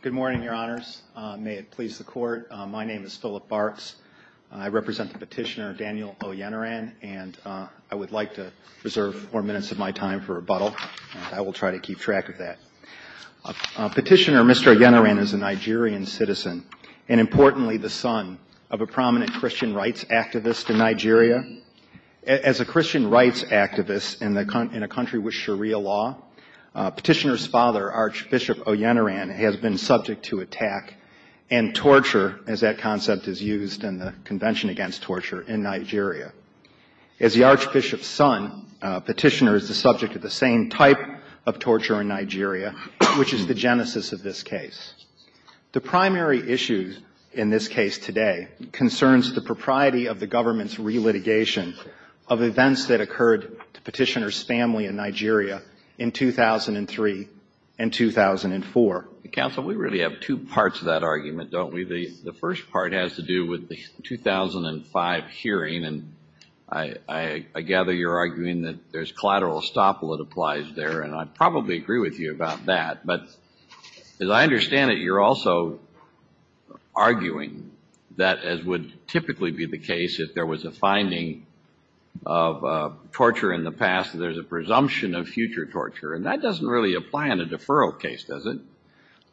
Good morning, Your Honors. May it please the Court. My name is Philip Bartz. I represent the petitioner Daniel Oyeniran, and I would like to reserve four minutes of my time for rebuttal. I will try to keep track of that. Petitioner Mr. Oyeniran is a Nigerian citizen and importantly the son of a prominent Christian rights activist in Nigeria. As a Christian rights activist in a country with Sharia law, petitioner's father, Archbishop Oyeniran, has been subject to attack and torture, as that concept is used in the Convention Against Torture in Nigeria. As the archbishop's son, petitioner is the subject of the same type of torture in Nigeria, which is the genesis of this case. The primary issue in this case today concerns the propriety of the government's relitigation of events that occurred to petitioner's family in Nigeria in 2003 and 2004. Counsel, we really have two parts to that argument, don't we? The first part has to do with the 2005 hearing, and I gather you're arguing that there's collateral estoppel that applies there, and I probably agree with you about that. But as I understand it, you're also arguing that, as would typically be the case if there was a finding of torture in the past, there's a presumption of future torture. And that doesn't really apply in a deferral case, does it?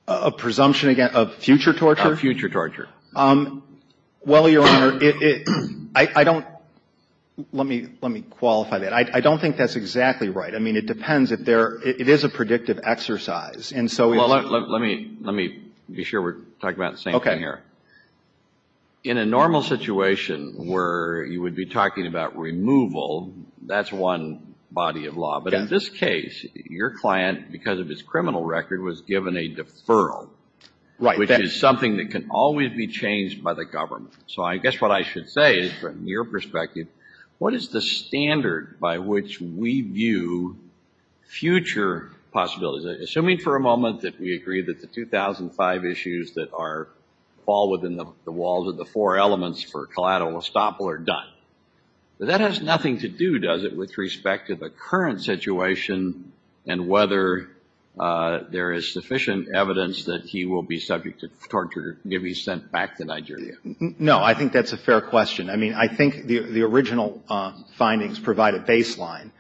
A presumption, again, of future torture? Of future torture. Well, Your Honor, it — I don't — let me — let me qualify that. I don't think that's exactly right. I mean, it depends if there — it is a predictive exercise. And so if — Well, let me — let me be sure we're talking about the same thing here. Okay. In a normal situation where you would be talking about removal, that's one body of law. Yes. But in this case, your client, because of his criminal record, was given a deferral. Right. Which is something that can always be changed by the government. So I guess what I should perspective, what is the standard by which we view future possibilities? Assuming for a moment that we agree that the 2005 issues that are fall within the walls of the four elements for collateral estoppel are done. That has nothing to do, does it, with respect to the current situation and whether there is sufficient evidence that he will be subject No, I think that's a fair question. I mean, I think the original findings provide a baseline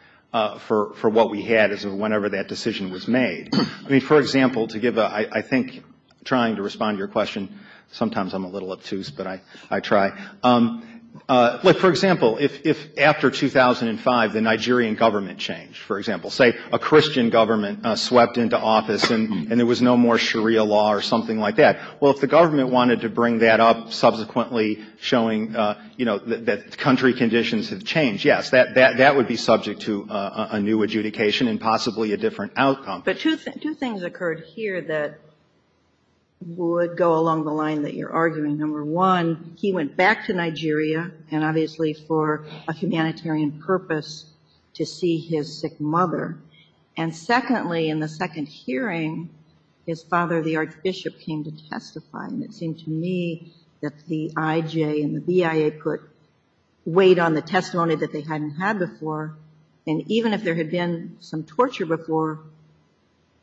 for what we had as of whenever that decision was made. I mean, for example, to give a — I think trying to respond to your question, sometimes I'm a little obtuse, but I try. Like, for example, if after 2005 the Nigerian government changed, for example, say a Christian government swept into office and there was no more Sharia law or something like that. Well, if the government wanted to bring that up subsequently showing, you know, that country conditions have changed, yes, that would be subject to a new adjudication and possibly a different outcome. But two things occurred here that would go along the line that you're arguing. Number one, he went back to Nigeria, and obviously for a humanitarian purpose, to see his sick to me that the I.J. and the B.I.A. put weight on the testimony that they hadn't had before, and even if there had been some torture before,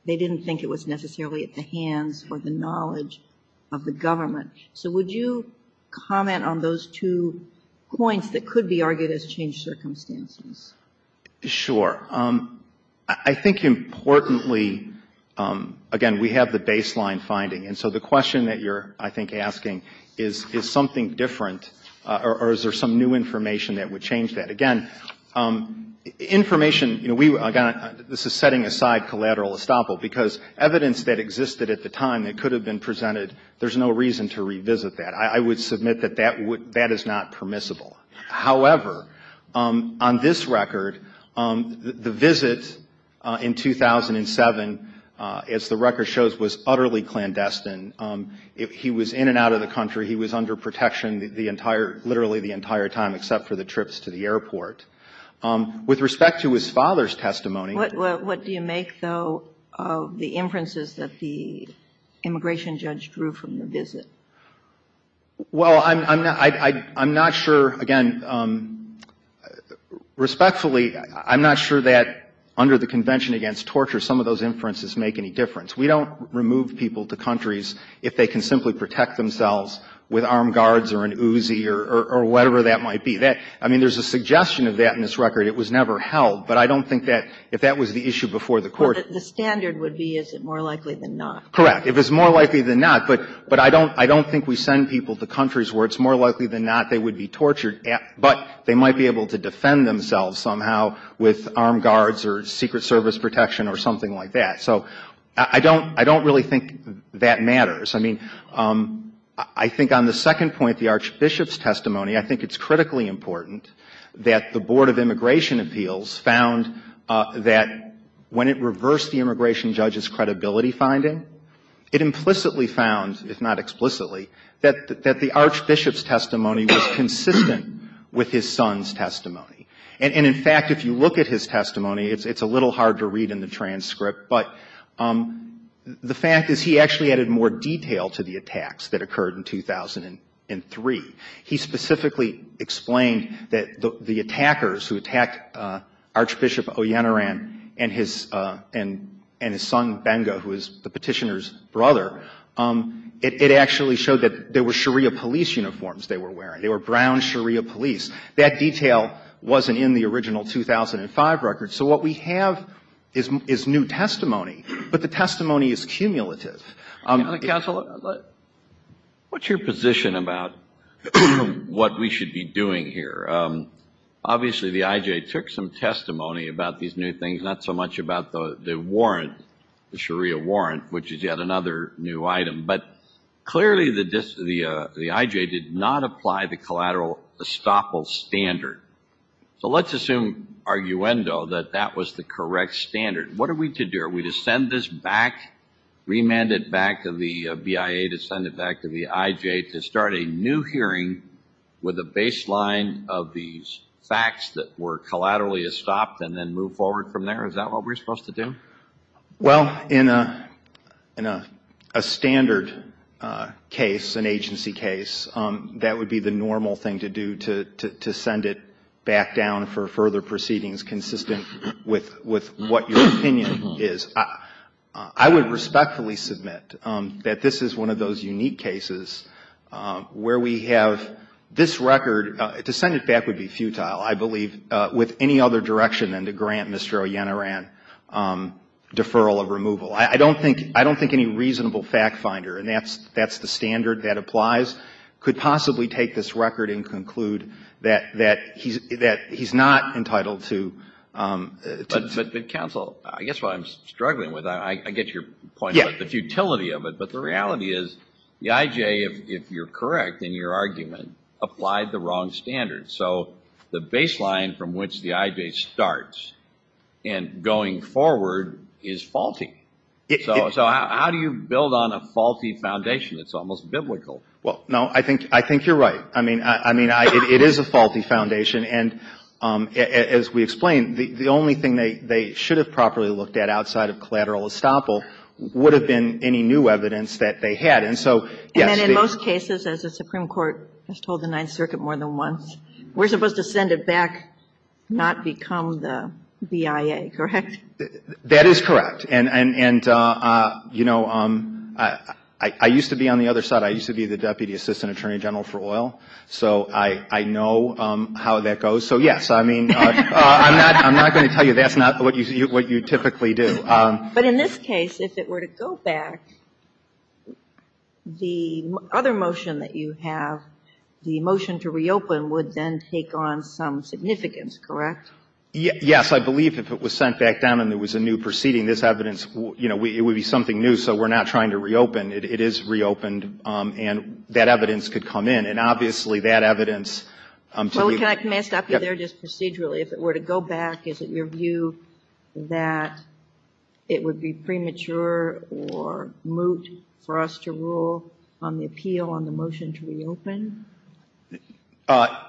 they didn't think it was necessarily at the hands or the knowledge of the government. So would you comment on those two points that could be argued as changed circumstances? Sure. I think importantly, again, we have the baseline finding, and so the question that you're, I think, asking is, is something different, or is there some new information that would change that? Again, information, you know, we, again, this is setting aside collateral estoppel, because evidence that existed at the time that could have been presented, there's no reason to revisit that. I would submit that that is not permissible. However, on this record, the visit in 2007, as the record shows, was utterly clandestine. He was in and out of the country. He was under protection the entire, literally the entire time except for the trips to the airport. With respect to his father's testimony What do you make, though, of the inferences that the immigration judge drew from the visit? Well, I'm not sure, again, respectfully, I'm not sure that under the Convention Against Torture some of those inferences make any difference. We don't remove people to countries if they can simply protect themselves with armed guards or an Uzi or whatever that might be. I mean, there's a suggestion of that in this record. It was never held, but I don't think that if that was the issue before the Court Well, the standard would be, is it more likely than not? Correct. It was more likely than not, but I don't think we send people to countries where it's more likely than not they would be tortured, but they might be able to defend themselves somehow with armed guards or Secret Service protection or something like that. So I don't really think that matters. I mean, I think on the second point, the Archbishop's testimony, I think it's critically important that the Board of Immigration Appeals found that when it reversed the immigration judge's credibility finding, it implicitly found, if not explicitly, that the Archbishop's testimony was consistent with his son's testimony. And in fact, if you look at his testimony, it's a little hard to read in the transcript, but the fact is he actually added more detail to the attacks that occurred in 2003. He specifically explained that the attackers who attacked Archbishop Oyenaran and his son Benga, who is the petitioner's brother, it actually showed that there were Sharia police uniforms they were wearing. They were brown Sharia police. That detail wasn't in the original 2005 record. So what we have is new testimony, but the testimony is cumulative. Counsel, what's your position about what we should be doing here? Obviously the IJ took some testimony about these new things, not so much about the warrant, the Sharia warrant, which is yet another new item. But clearly the IJ did not apply the collateral estoppel standard. So let's assume, arguendo, that that was the correct standard. What are we to do? Are we to send this back, remand it back to the BIA to send it back to the IJ to start a new hearing with a baseline of these facts that were collaterally estopped and then move forward from there? Is that what we're supposed to do? Well, in a standard case, an agency case, that would be the normal thing to do, to send it back down for further proceedings consistent with what your opinion is. I would respectfully submit that this is one of those unique cases where we have this record. To send it back would be futile, I believe, with any other direction than to grant Mr. Ollantaran deferral of removal. I don't think any reasonable fact finder, and that's the standard that applies, could possibly take this record and conclude that he's not entitled to... But counsel, I guess what I'm struggling with, I get your point about the futility of it, but the reality is the IJ, if you're correct in your argument, applied the wrong standard. So the baseline from which the IJ starts and going forward is faulty. So how do you build on a faulty foundation that's almost biblical? Well, no, I think you're right. I mean, it is a faulty foundation. And as we explained, the only thing they should have properly looked at outside of collateral estoppel would have been any new evidence that they had. And so, yes, the... And then in most cases, as the Supreme Court has told the Ninth Circuit more than once, we're supposed to send it back, not become the BIA, correct? That is correct. And, you know, I used to be on the other side. I used to be the Deputy Assistant Attorney General for oil. So I know how that goes. So, yes, I mean, I'm not going to tell you that's not what you typically do. But in this case, if it were to go back, the other motion that you have, the motion to reopen would then take on some significance, correct? Yes, I believe if it was sent back down and there was a new proceeding, this evidence, you know, it would be something new. So we're not trying to reopen. It is reopened. And that evidence could come in. And obviously, that evidence to be... Well, can I stop you there just procedurally? If it were to go back, is it your view that it would be premature or moot for us to rule on the appeal on the motion to reopen?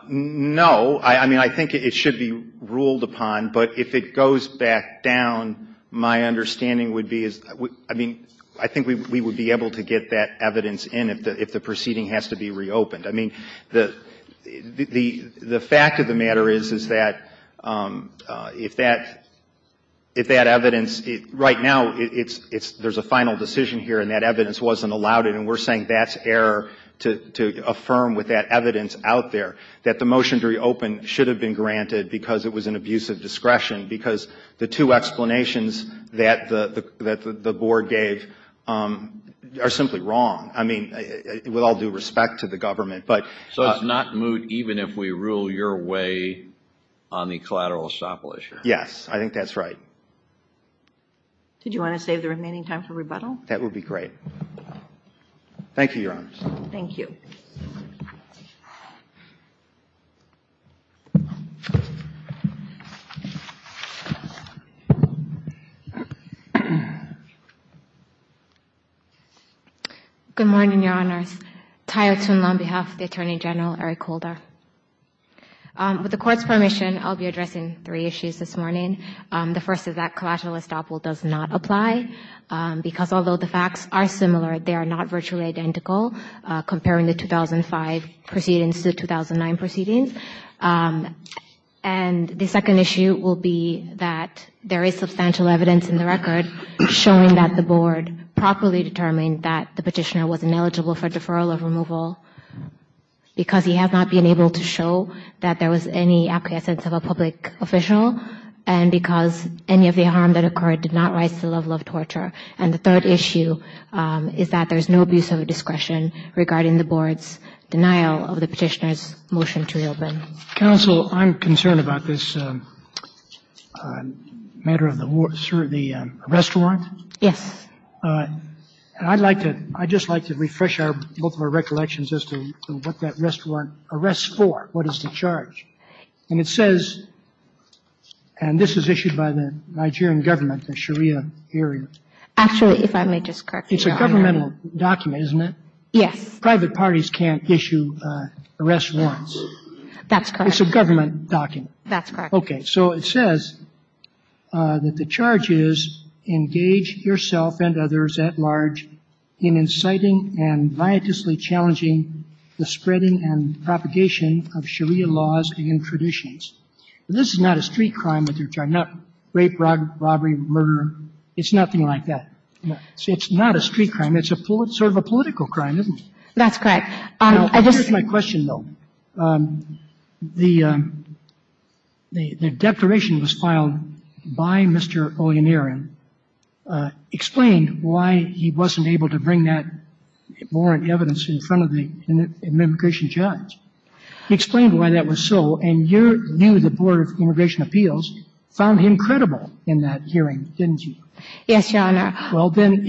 No. I mean, I think it should be ruled upon. But if it goes back down, my understanding would be, I mean, I think we would be able to get that evidence in if the proceeding has to be reopened. I mean, the fact of the matter is, is that if that evidence, right now, there's a final decision here, and that evidence wasn't allowed in, and we're saying that's error to affirm with that evidence out there, that the motion to reopen should have been granted because it was an abuse of discretion, because the two explanations that the board gave are simply wrong. I mean, with all due respect to the government, but... So it's not moot even if we rule your way on the collateral estoppel issue? Yes. I think that's right. Did you want to save the remaining time for rebuttal? That would be great. Thank you, Your Honors. Thank you. Good morning, Your Honors. Tai O'Toon on behalf of the Attorney General, Eric Holder. With the Court's permission, I'll be addressing three issues this morning. The first is that collateral estoppel does not apply, because although the facts are similar, they are not virtually identical, comparing the 2005 proceedings to the 2009 proceedings. And the second issue will be that there is substantial evidence in the record showing that the board properly determined that the petitioner was ineligible for deferral of removal because he has not been able to show that there was any acquiescence of a public official, and because any of the harm that occurred did not rise to the level of torture. And the third issue is that there is no abuse of discretion regarding the board's denial of the petitioner's motion to reopen. Counsel, I'm concerned about this matter of the restaurant. Yes. And I'd like to – I'd just like to refresh our – both of our recollections as to what that restaurant arrests for, what is the charge. And it says – and this is issued by the Nigerian government, the Sharia area. Actually, if I may just correct you, Your Honor. It's a governmental document, isn't it? Yes. Private parties can't issue arrest warrants. That's correct. It's a government document. That's correct. Okay. So it says that the charge is, engage yourself and others at large in inciting and the spreading and propagation of Sharia laws and traditions. And this is not a street crime that they're trying – not rape, robbery, murder. It's nothing like that. No. See, it's not a street crime. It's a – it's sort of a political crime, isn't it? That's correct. I just – Now, here's my question, though. The – the declaration was filed by Mr. Ollinarian, and Mr. Ollinarian explained why he wasn't able to bring that warrant evidence in front of the immigration judge. He explained why that was so, and your – you, the Board of Immigration Appeals, found him credible in that hearing, didn't you? Yes, Your Honor. Well, then,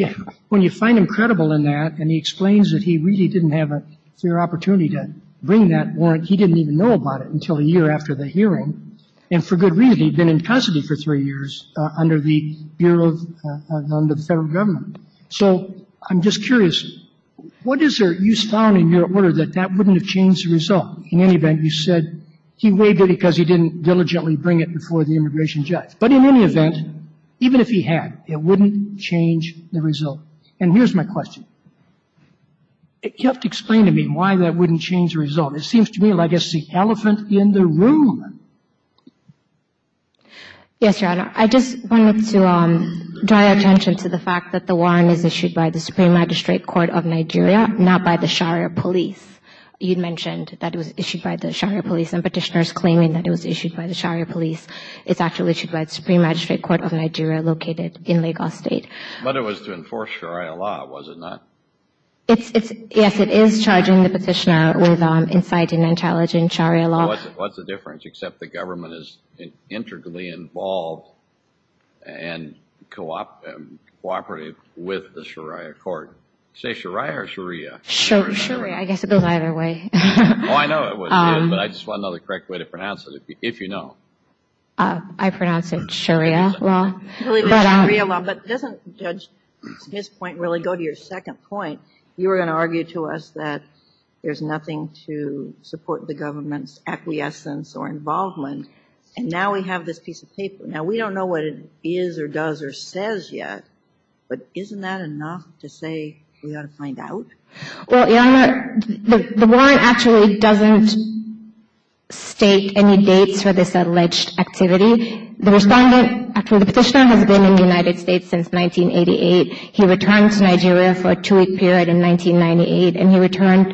when you find him credible in that and he explains that he really didn't have a fair opportunity to bring that warrant, he didn't even know about it until a year after the hearing. And for good reason. He'd been in custody for three years under the federal government. So I'm just curious, what is there – you found in your order that that wouldn't have changed the result? In any event, you said he waived it because he didn't diligently bring it before the immigration judge. But in any event, even if he had, it wouldn't change the result. And here's my question. You have to explain to me why that wouldn't change the result. It seems to me like it's the elephant in the room. Yes, Your Honor. I just wanted to draw your attention to the fact that the warrant is issued by the Supreme Magistrate Court of Nigeria, not by the Sharia police. You mentioned that it was issued by the Sharia police and petitioners claiming that it was issued by the Sharia police. It's actually issued by the Supreme Magistrate Court of Nigeria located in Lagos State. But it was to enforce Sharia law, was it not? It's – yes, it is charging the petitioner with inciting and challenging Sharia law. What's the difference except the government is integrally involved and cooperative with the Sharia court? Say Sharia or Sharia? Sharia. I guess it goes either way. Oh, I know it would, but I just want to know the correct way to pronounce it, if you know. I pronounce it Sharia law. But doesn't Judge Smith's point really go to your second point? You were going to say that the Sharia law is not an act of acquiescence or involvement, and now we have this piece of paper. Now, we don't know what it is or does or says yet, but isn't that enough to say we ought to find out? Well, Your Honor, the warrant actually doesn't state any dates for this alleged activity. The respondent – the petitioner has been in the United States since 1988. He returned to Nigeria for a two-week period in 1998, and he returned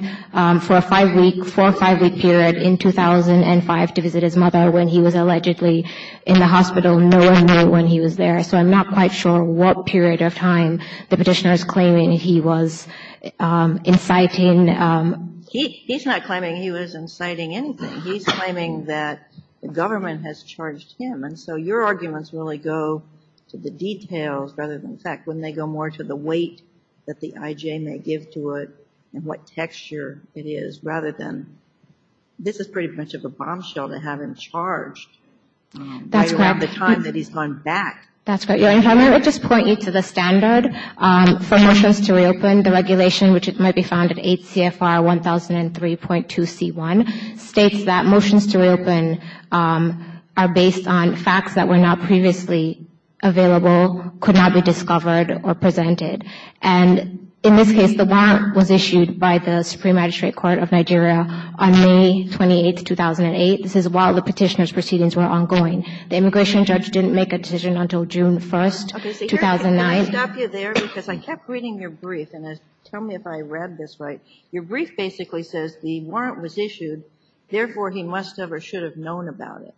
for a five-week – for a period of 2005 to visit his mother when he was allegedly in the hospital. No one knew when he was there, so I'm not quite sure what period of time the petitioner is claiming he was inciting. He's not claiming he was inciting anything. He's claiming that the government has charged him, and so your arguments really go to the details rather than – in fact, wouldn't they go more to the weight that the I.J. may give to it and what texture it is rather than this is pretty much of a bombshell to have him charged by the time that he's gone back? That's correct. Your Honor, let me just point you to the standard for motions to reopen. The regulation, which might be found in 8 CFR 1003.2C1, states that motions to reopen are based on facts that were not previously available, could not be discovered, or presented. And in this case, the warrant was issued by the Supreme Magistrate Court of Nigeria on May 28, 2008. This is while the petitioner's proceedings were ongoing. The immigration judge didn't make a decision until June 1, 2009. Okay, so here's – can I stop you there? Because I kept reading your brief, and tell me if I read this right. Your brief basically says the warrant was issued, therefore he must have or should have known about it.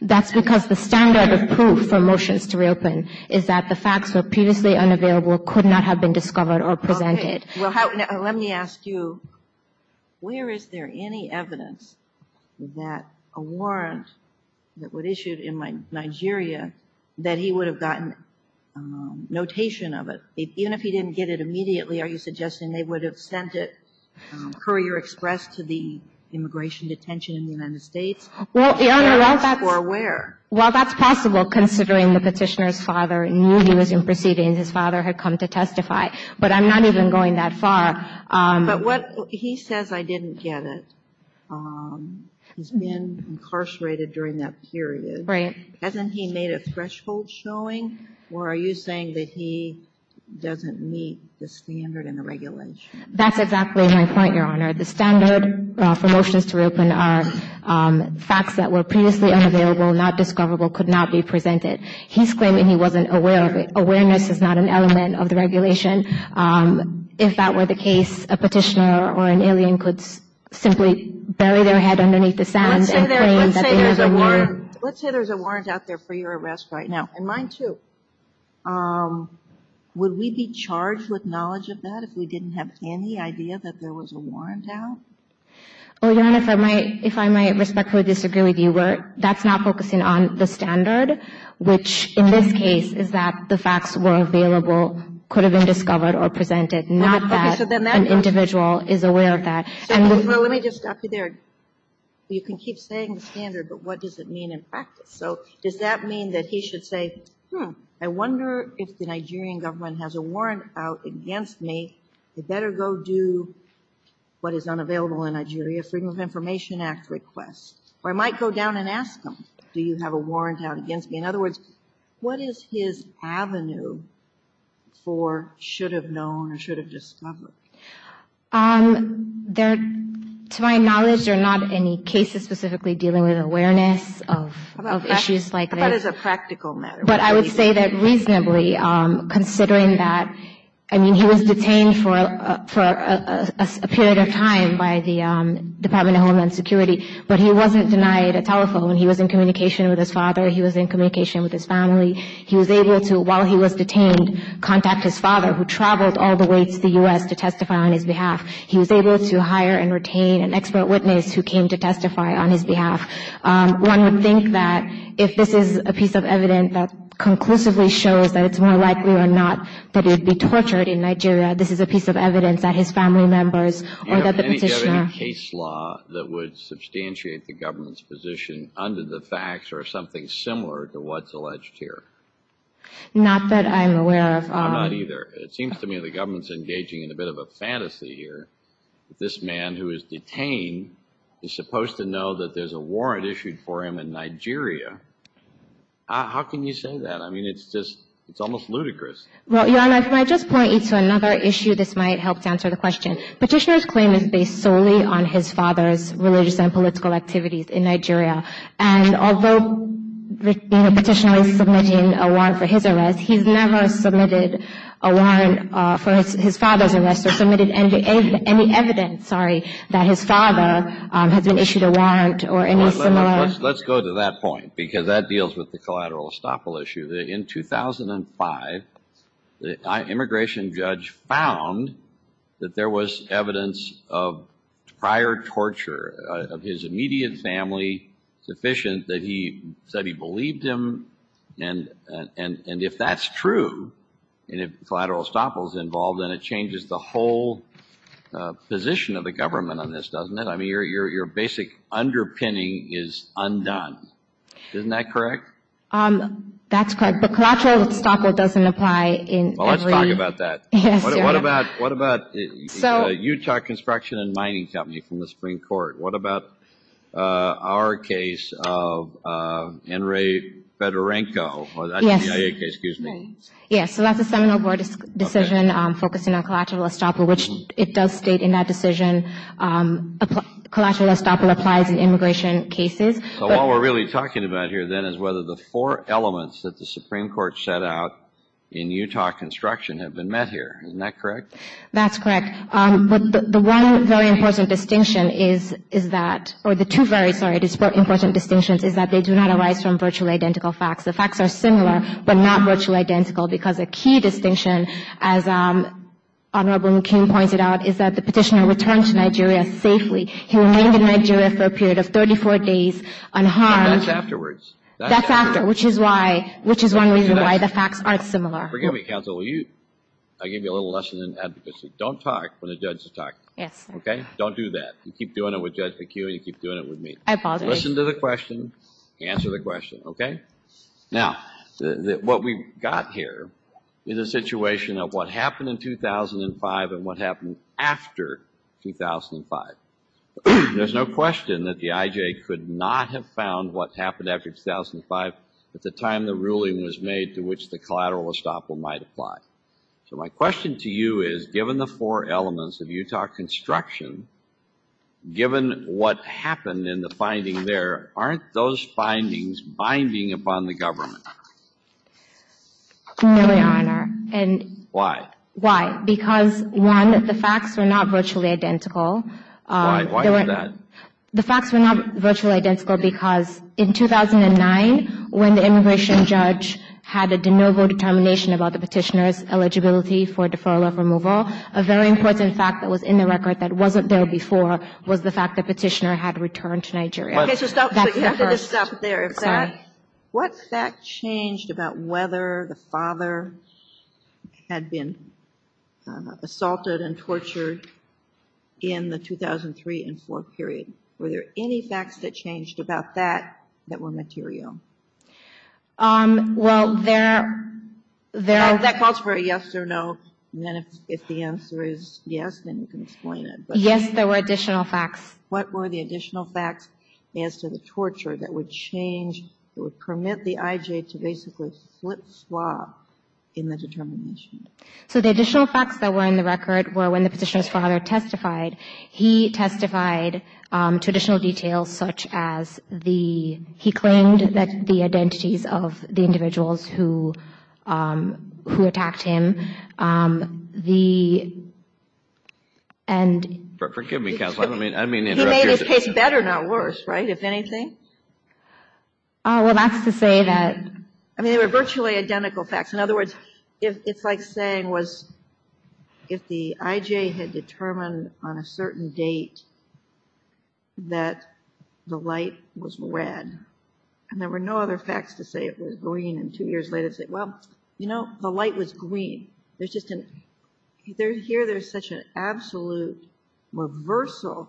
That's because the standard of proof for motions to reopen is that the facts were previously unavailable, could not have been discovered, or presented. Well, let me ask you, where is there any evidence that a warrant that was issued in Nigeria that he would have gotten notation of it? Even if he didn't get it immediately, are you suggesting they would have sent it courier expressed to the immigration detention in the United States? Well, Your Honor, while that's possible, considering the petitioner's father knew he was in proceedings, his father had come to testify. But I'm not even going that far. But what – he says, I didn't get it. He's been incarcerated during that period. Right. Hasn't he made a threshold showing, or are you saying that he doesn't meet the standard and the regulation? That's exactly my point, Your Honor. The standard for motions to reopen are facts that were previously unavailable, not discoverable, could not be presented. He's not even aware of it. Awareness is not an element of the regulation. If that were the case, a petitioner or an alien could simply bury their head underneath the sand and claim that they have a warrant. Let's say there's a warrant out there for your arrest right now, and mine too. Would we be charged with knowledge of that if we didn't have any idea that there was a warrant out? Well, Your Honor, if I might respectfully disagree with you, that's not focusing on the standard, which in this case is that the facts were available, could have been discovered or presented, not that an individual is aware of that. Well, let me just stop you there. You can keep saying the standard, but what does it mean in practice? So does that mean that he should say, hmm, I wonder if the Nigerian government has a warrant out against me, they better go do what is unavailable in Nigeria, Freedom of Information Act requests. Or I might go down and ask them, do you have a warrant out against me? In other words, what is his avenue for should have known or should have discovered? To my knowledge, there are not any cases specifically dealing with awareness of issues like this. How about as a practical matter? But I would say that reasonably, considering that, I mean, he was detained for a period of time by the Department of Homeland Security, but he wasn't denied a telephone. He was in communication with his father. He was in communication with his family. He was able to, while he was detained, contact his father, who traveled all the way to the U.S. to testify on his behalf. He was able to hire and retain an expert witness who came to testify on his behalf. One would think that if this is a piece of evidence that conclusively shows that it's more likely or not that he would be tortured in Nigeria, this is a piece of evidence that his family members or that the petitioner that would substantiate the government's position under the facts or something similar to what's alleged here. Not that I'm aware of. I'm not either. It seems to me the government's engaging in a bit of a fantasy here. This man who is detained is supposed to know that there's a warrant issued for him in Nigeria. How can you say that? I mean, it's just, it's almost ludicrous. Well, Your Honor, if I might just point you to another issue, this might help to answer the question. Petitioner's claim is based solely on his father's religious and political activities in Nigeria. And although the petitioner is submitting a warrant for his arrest, he's never submitted a warrant for his father's arrest or submitted any evidence, sorry, that his father has been issued a warrant or any similar. Let's go to that point because that deals with the collateral estoppel issue. In 2005, the immigration judge found that there was evidence of prior torture of his immediate family sufficient that he said he believed him. And if that's true, and if collateral estoppel's involved, then it changes the whole position of the government on this, doesn't it? I mean, your basic underpinning is undone. Isn't that correct? That's correct. But collateral estoppel doesn't apply in every... Well, let's talk about that. Yes, Your Honor. What about Utah Construction and Mining Company from the Supreme Court? What about our case of Enrique Fedorenko? Yes. The CIA case, excuse me. Yes, so that's a seminal board decision focusing on collateral estoppel, which it does state in that decision, collateral estoppel applies in immigration cases. So what we're really talking about here, then, is whether the four elements that the Supreme Court set out in Utah Construction have been met here. Isn't that correct? That's correct. But the one very important distinction is that, or the two very important distinctions is that they do not arise from virtually identical facts. The facts are similar but not virtually identical because a key distinction, as Honorable McKean pointed out, is that the petitioner returned to Nigeria safely. He remained in Nigeria for a period of 34 days unharmed. That's afterwards. That's after, which is why, which is one reason why the facts aren't similar. Forgive me, counsel. I'll give you a little lesson in advocacy. Don't talk when a judge is talking. Yes. Okay? Don't do that. You keep doing it with Judge McKeown, you keep doing it with me. I apologize. Listen to the question. Answer the question, okay? Now, what we've got here is a ruling after 2005. There's no question that the IJ could not have found what happened after 2005 at the time the ruling was made to which the collateral estoppel might apply. So my question to you is, given the four elements of Utah Construction, given what happened in the finding there, aren't those findings binding upon the government? No, Your Honor. Why? Why? Because, one, the facts were not virtually identical. Why? Why is that? The facts were not virtually identical because in 2009, when the immigration judge had a de novo determination about the petitioner's eligibility for deferral of removal, a very important fact that was in the record that wasn't there before was the fact the petitioner had returned to Nigeria. Okay, so stop. So you have to just stop there. Sorry. What fact changed about whether the father had been assaulted and tortured in the 2003 and 2004 period? Were there any facts that changed about that that were material? Well, there are. That calls for a yes or no, and then if the answer is yes, then you can explain it. Yes, there were additional facts. What were the additional facts as to the torture that would change, that would permit the IJ to basically flip-swap in the determination? So the additional facts that were in the record were when the petitioner's father testified, he testified to additional details such as the, he claimed that the identities of the individuals who attacked him, the, and He made his case better, not worse, right, if anything? Well, that's to say that I mean, they were virtually identical facts. In other words, it's like saying was if the IJ had determined on a certain date that the light was red, and there were no other facts to say it was green, and two years later say, well, you know, the light was green. There's just an, here there's such an absolute reversal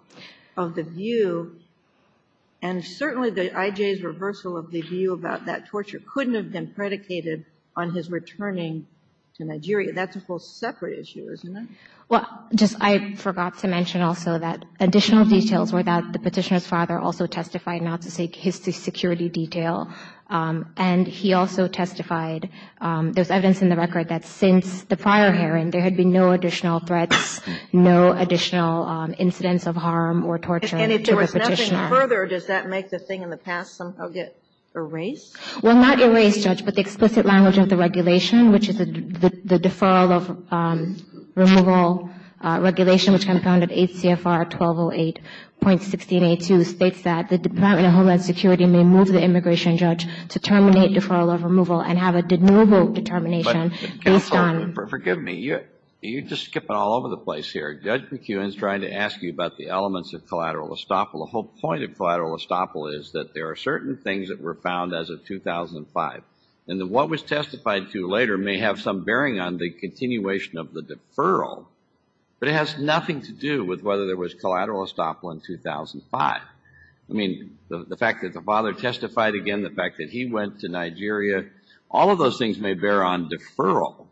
of the view, and certainly the IJ's reversal of the view about that torture couldn't have been predicated on his returning to Nigeria. That's a whole separate issue, isn't it? Well, just, I forgot to mention also that additional details were that the petitioner's father also testified not to say his security detail, and he also testified, there's evidence in the record that since the prior hearing, there had been no additional threats, no additional incidents of harm or torture to the petitioner. And if there was nothing further, does that make the thing in the past somehow get erased? Well, not erased, Judge, but the explicit language of the regulation, which is the deferral of removal regulation, which can be found at 8 CFR 1208.16a2 states that the Department of Homeland Security may move the immigration judge to terminate deferral of removal and have a de novo determination based on But counsel, forgive me, you're just skipping all over the place here. Judge McEwen is trying to ask you about the elements of collateral estoppel. The whole point of collateral estoppel is that there are certain things that were found as of 2005, and that what was testified to later may have some bearing on the continuation of the deferral, but it has nothing to do with whether there was collateral estoppel in 2005. I mean, the fact that the father testified again, the fact that he went to Nigeria, all of those things may bear on deferral.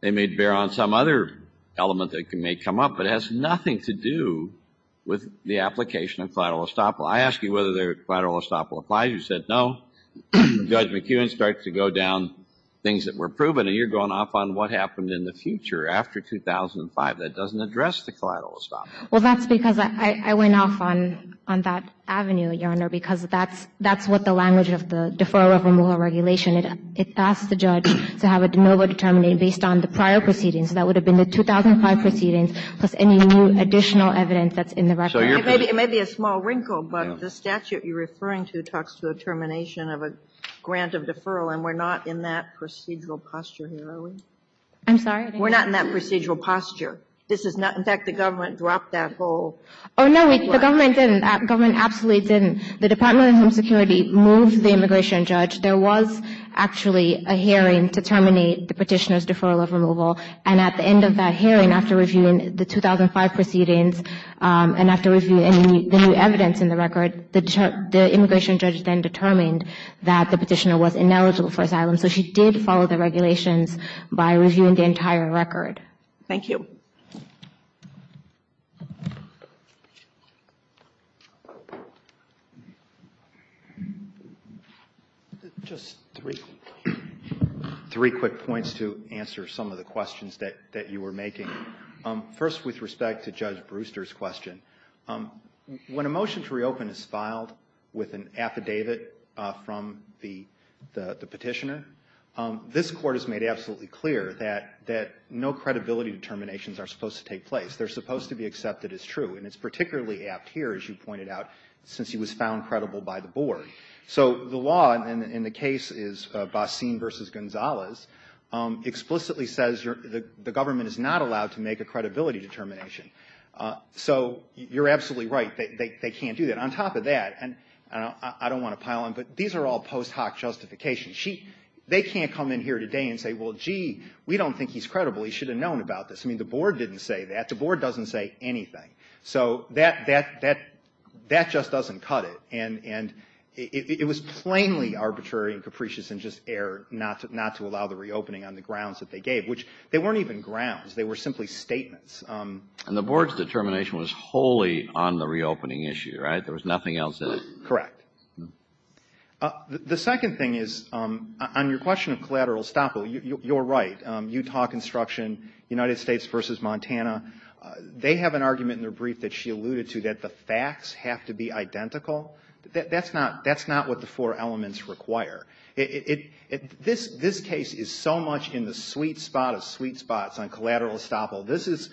They may bear on some other element that may come up, but it has nothing to do with the application of collateral estoppel. I ask you whether collateral estoppel applies. You said no. Judge McEwen starts to go down things that were proven, and you're going off on what happened in the future after 2005. That doesn't address the collateral estoppel. Well, that's because I went off on that avenue, Your Honor, because that's what the language of the deferral of removal regulation. It asks the judge to have a de novo determination based on the prior proceedings. That would have been the 2005 proceedings plus any new additional evidence that's in the record. It may be a small wrinkle, but the statute you're referring to talks to a termination of a grant of deferral, and we're not in that procedural posture here, are we? I'm sorry? We're not in that procedural posture. In fact, the government dropped that whole... Oh, no, the government didn't. The government absolutely didn't. The Department of Home Security moved the immigration judge. There was actually a hearing to terminate the petitioner's deferral of removal, and at the end of that hearing, after reviewing the 2005 proceedings and after reviewing the new evidence in the record, the immigration judge then determined that the petitioner was ineligible for asylum, so she did follow the regulations by reviewing the entire record. Thank you. Just three quick points to answer some of the questions that you were making. First, with respect to Judge Brewster's question, when a motion to reopen is filed with an affidavit from the petitioner, this Court has made absolutely clear that no credibility determinations are supposed to take place. They're supposed to be accepted as true, and it's particularly apt here, as you pointed out, since he was found credible by the board. So the law, and the case is Basin v. Gonzalez, explicitly says the government is not allowed to make a credibility determination. So you're absolutely right. They can't do that. On top of that, and I don't want to pile on, but these are all post hoc justifications. They can't come in here today and say, well, gee, we don't think he's credible. He should have known about this. I mean, the board didn't say that. The board doesn't say anything. So that just doesn't cut it, and it was plainly arbitrary and capricious and just error not to allow the reopening on the grounds that they gave, which they weren't even grounds. They were simply statements. And the board's determination was wholly on the reopening issue, right? There was nothing else in it. Correct. The second thing is, on your question of collateral estoppel, you're right. Utah Construction, United States v. Montana, they have an argument in their brief that she alluded to that the facts have to be identical. That's not what the four elements require. This case is so much in the sweet spot of sweet spots on collateral estoppel. This is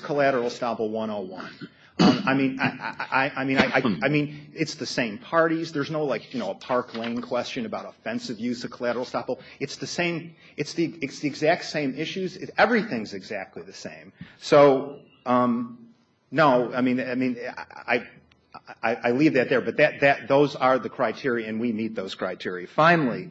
collateral estoppel 101. I mean, it's the same parties. There's no, like, you know, a Park Lane question about offensive use of collateral estoppel. It's the same. It's the exact same issues. Everything's exactly the same. So, no, I mean, I leave that there. But those are the criteria, and we meet those criteria. Finally,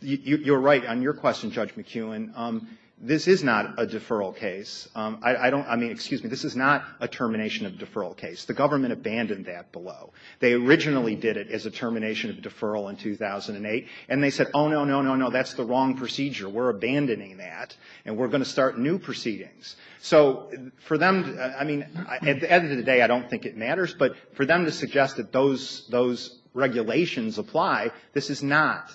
you're right on your question, Judge McKeown. This is not a deferral case. I don't, I mean, excuse me, this is not a termination of deferral case. The government abandoned that below. They originally did it as a termination of deferral in 2008, and they said, oh, no, no, no, no, that's the wrong procedure. We're abandoning that, and we're going to start new proceedings. So, for them, I mean, at the end of the day, I don't think it matters. But for them to suggest that those regulations apply, this is not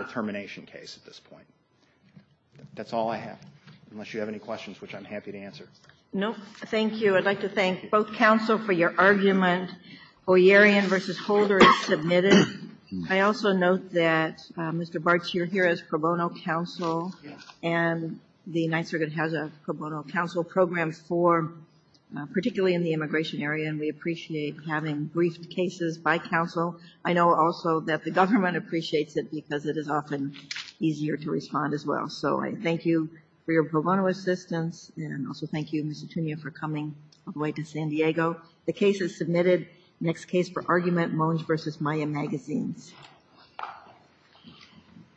a termination case at this point. That's all I have, unless you have any questions, which I'm happy to answer. Nope. Thank you. I'd like to thank both counsel for your argument. O'Yearian v. Holder is submitted. I also note that, Mr. Bartsch, you're here as pro bono counsel. Yes. And the Ninth Circuit has a pro bono counsel program for particularly in the immigration area, and we appreciate having briefed cases by counsel. I know, also, that the government appreciates it because it is often easier to respond as well. So I thank you for your pro bono assistance, and also thank you, Mr. Tunia, for coming all the way to San Diego. The case is submitted. Next case for argument, Moenge v. Maya Magazines.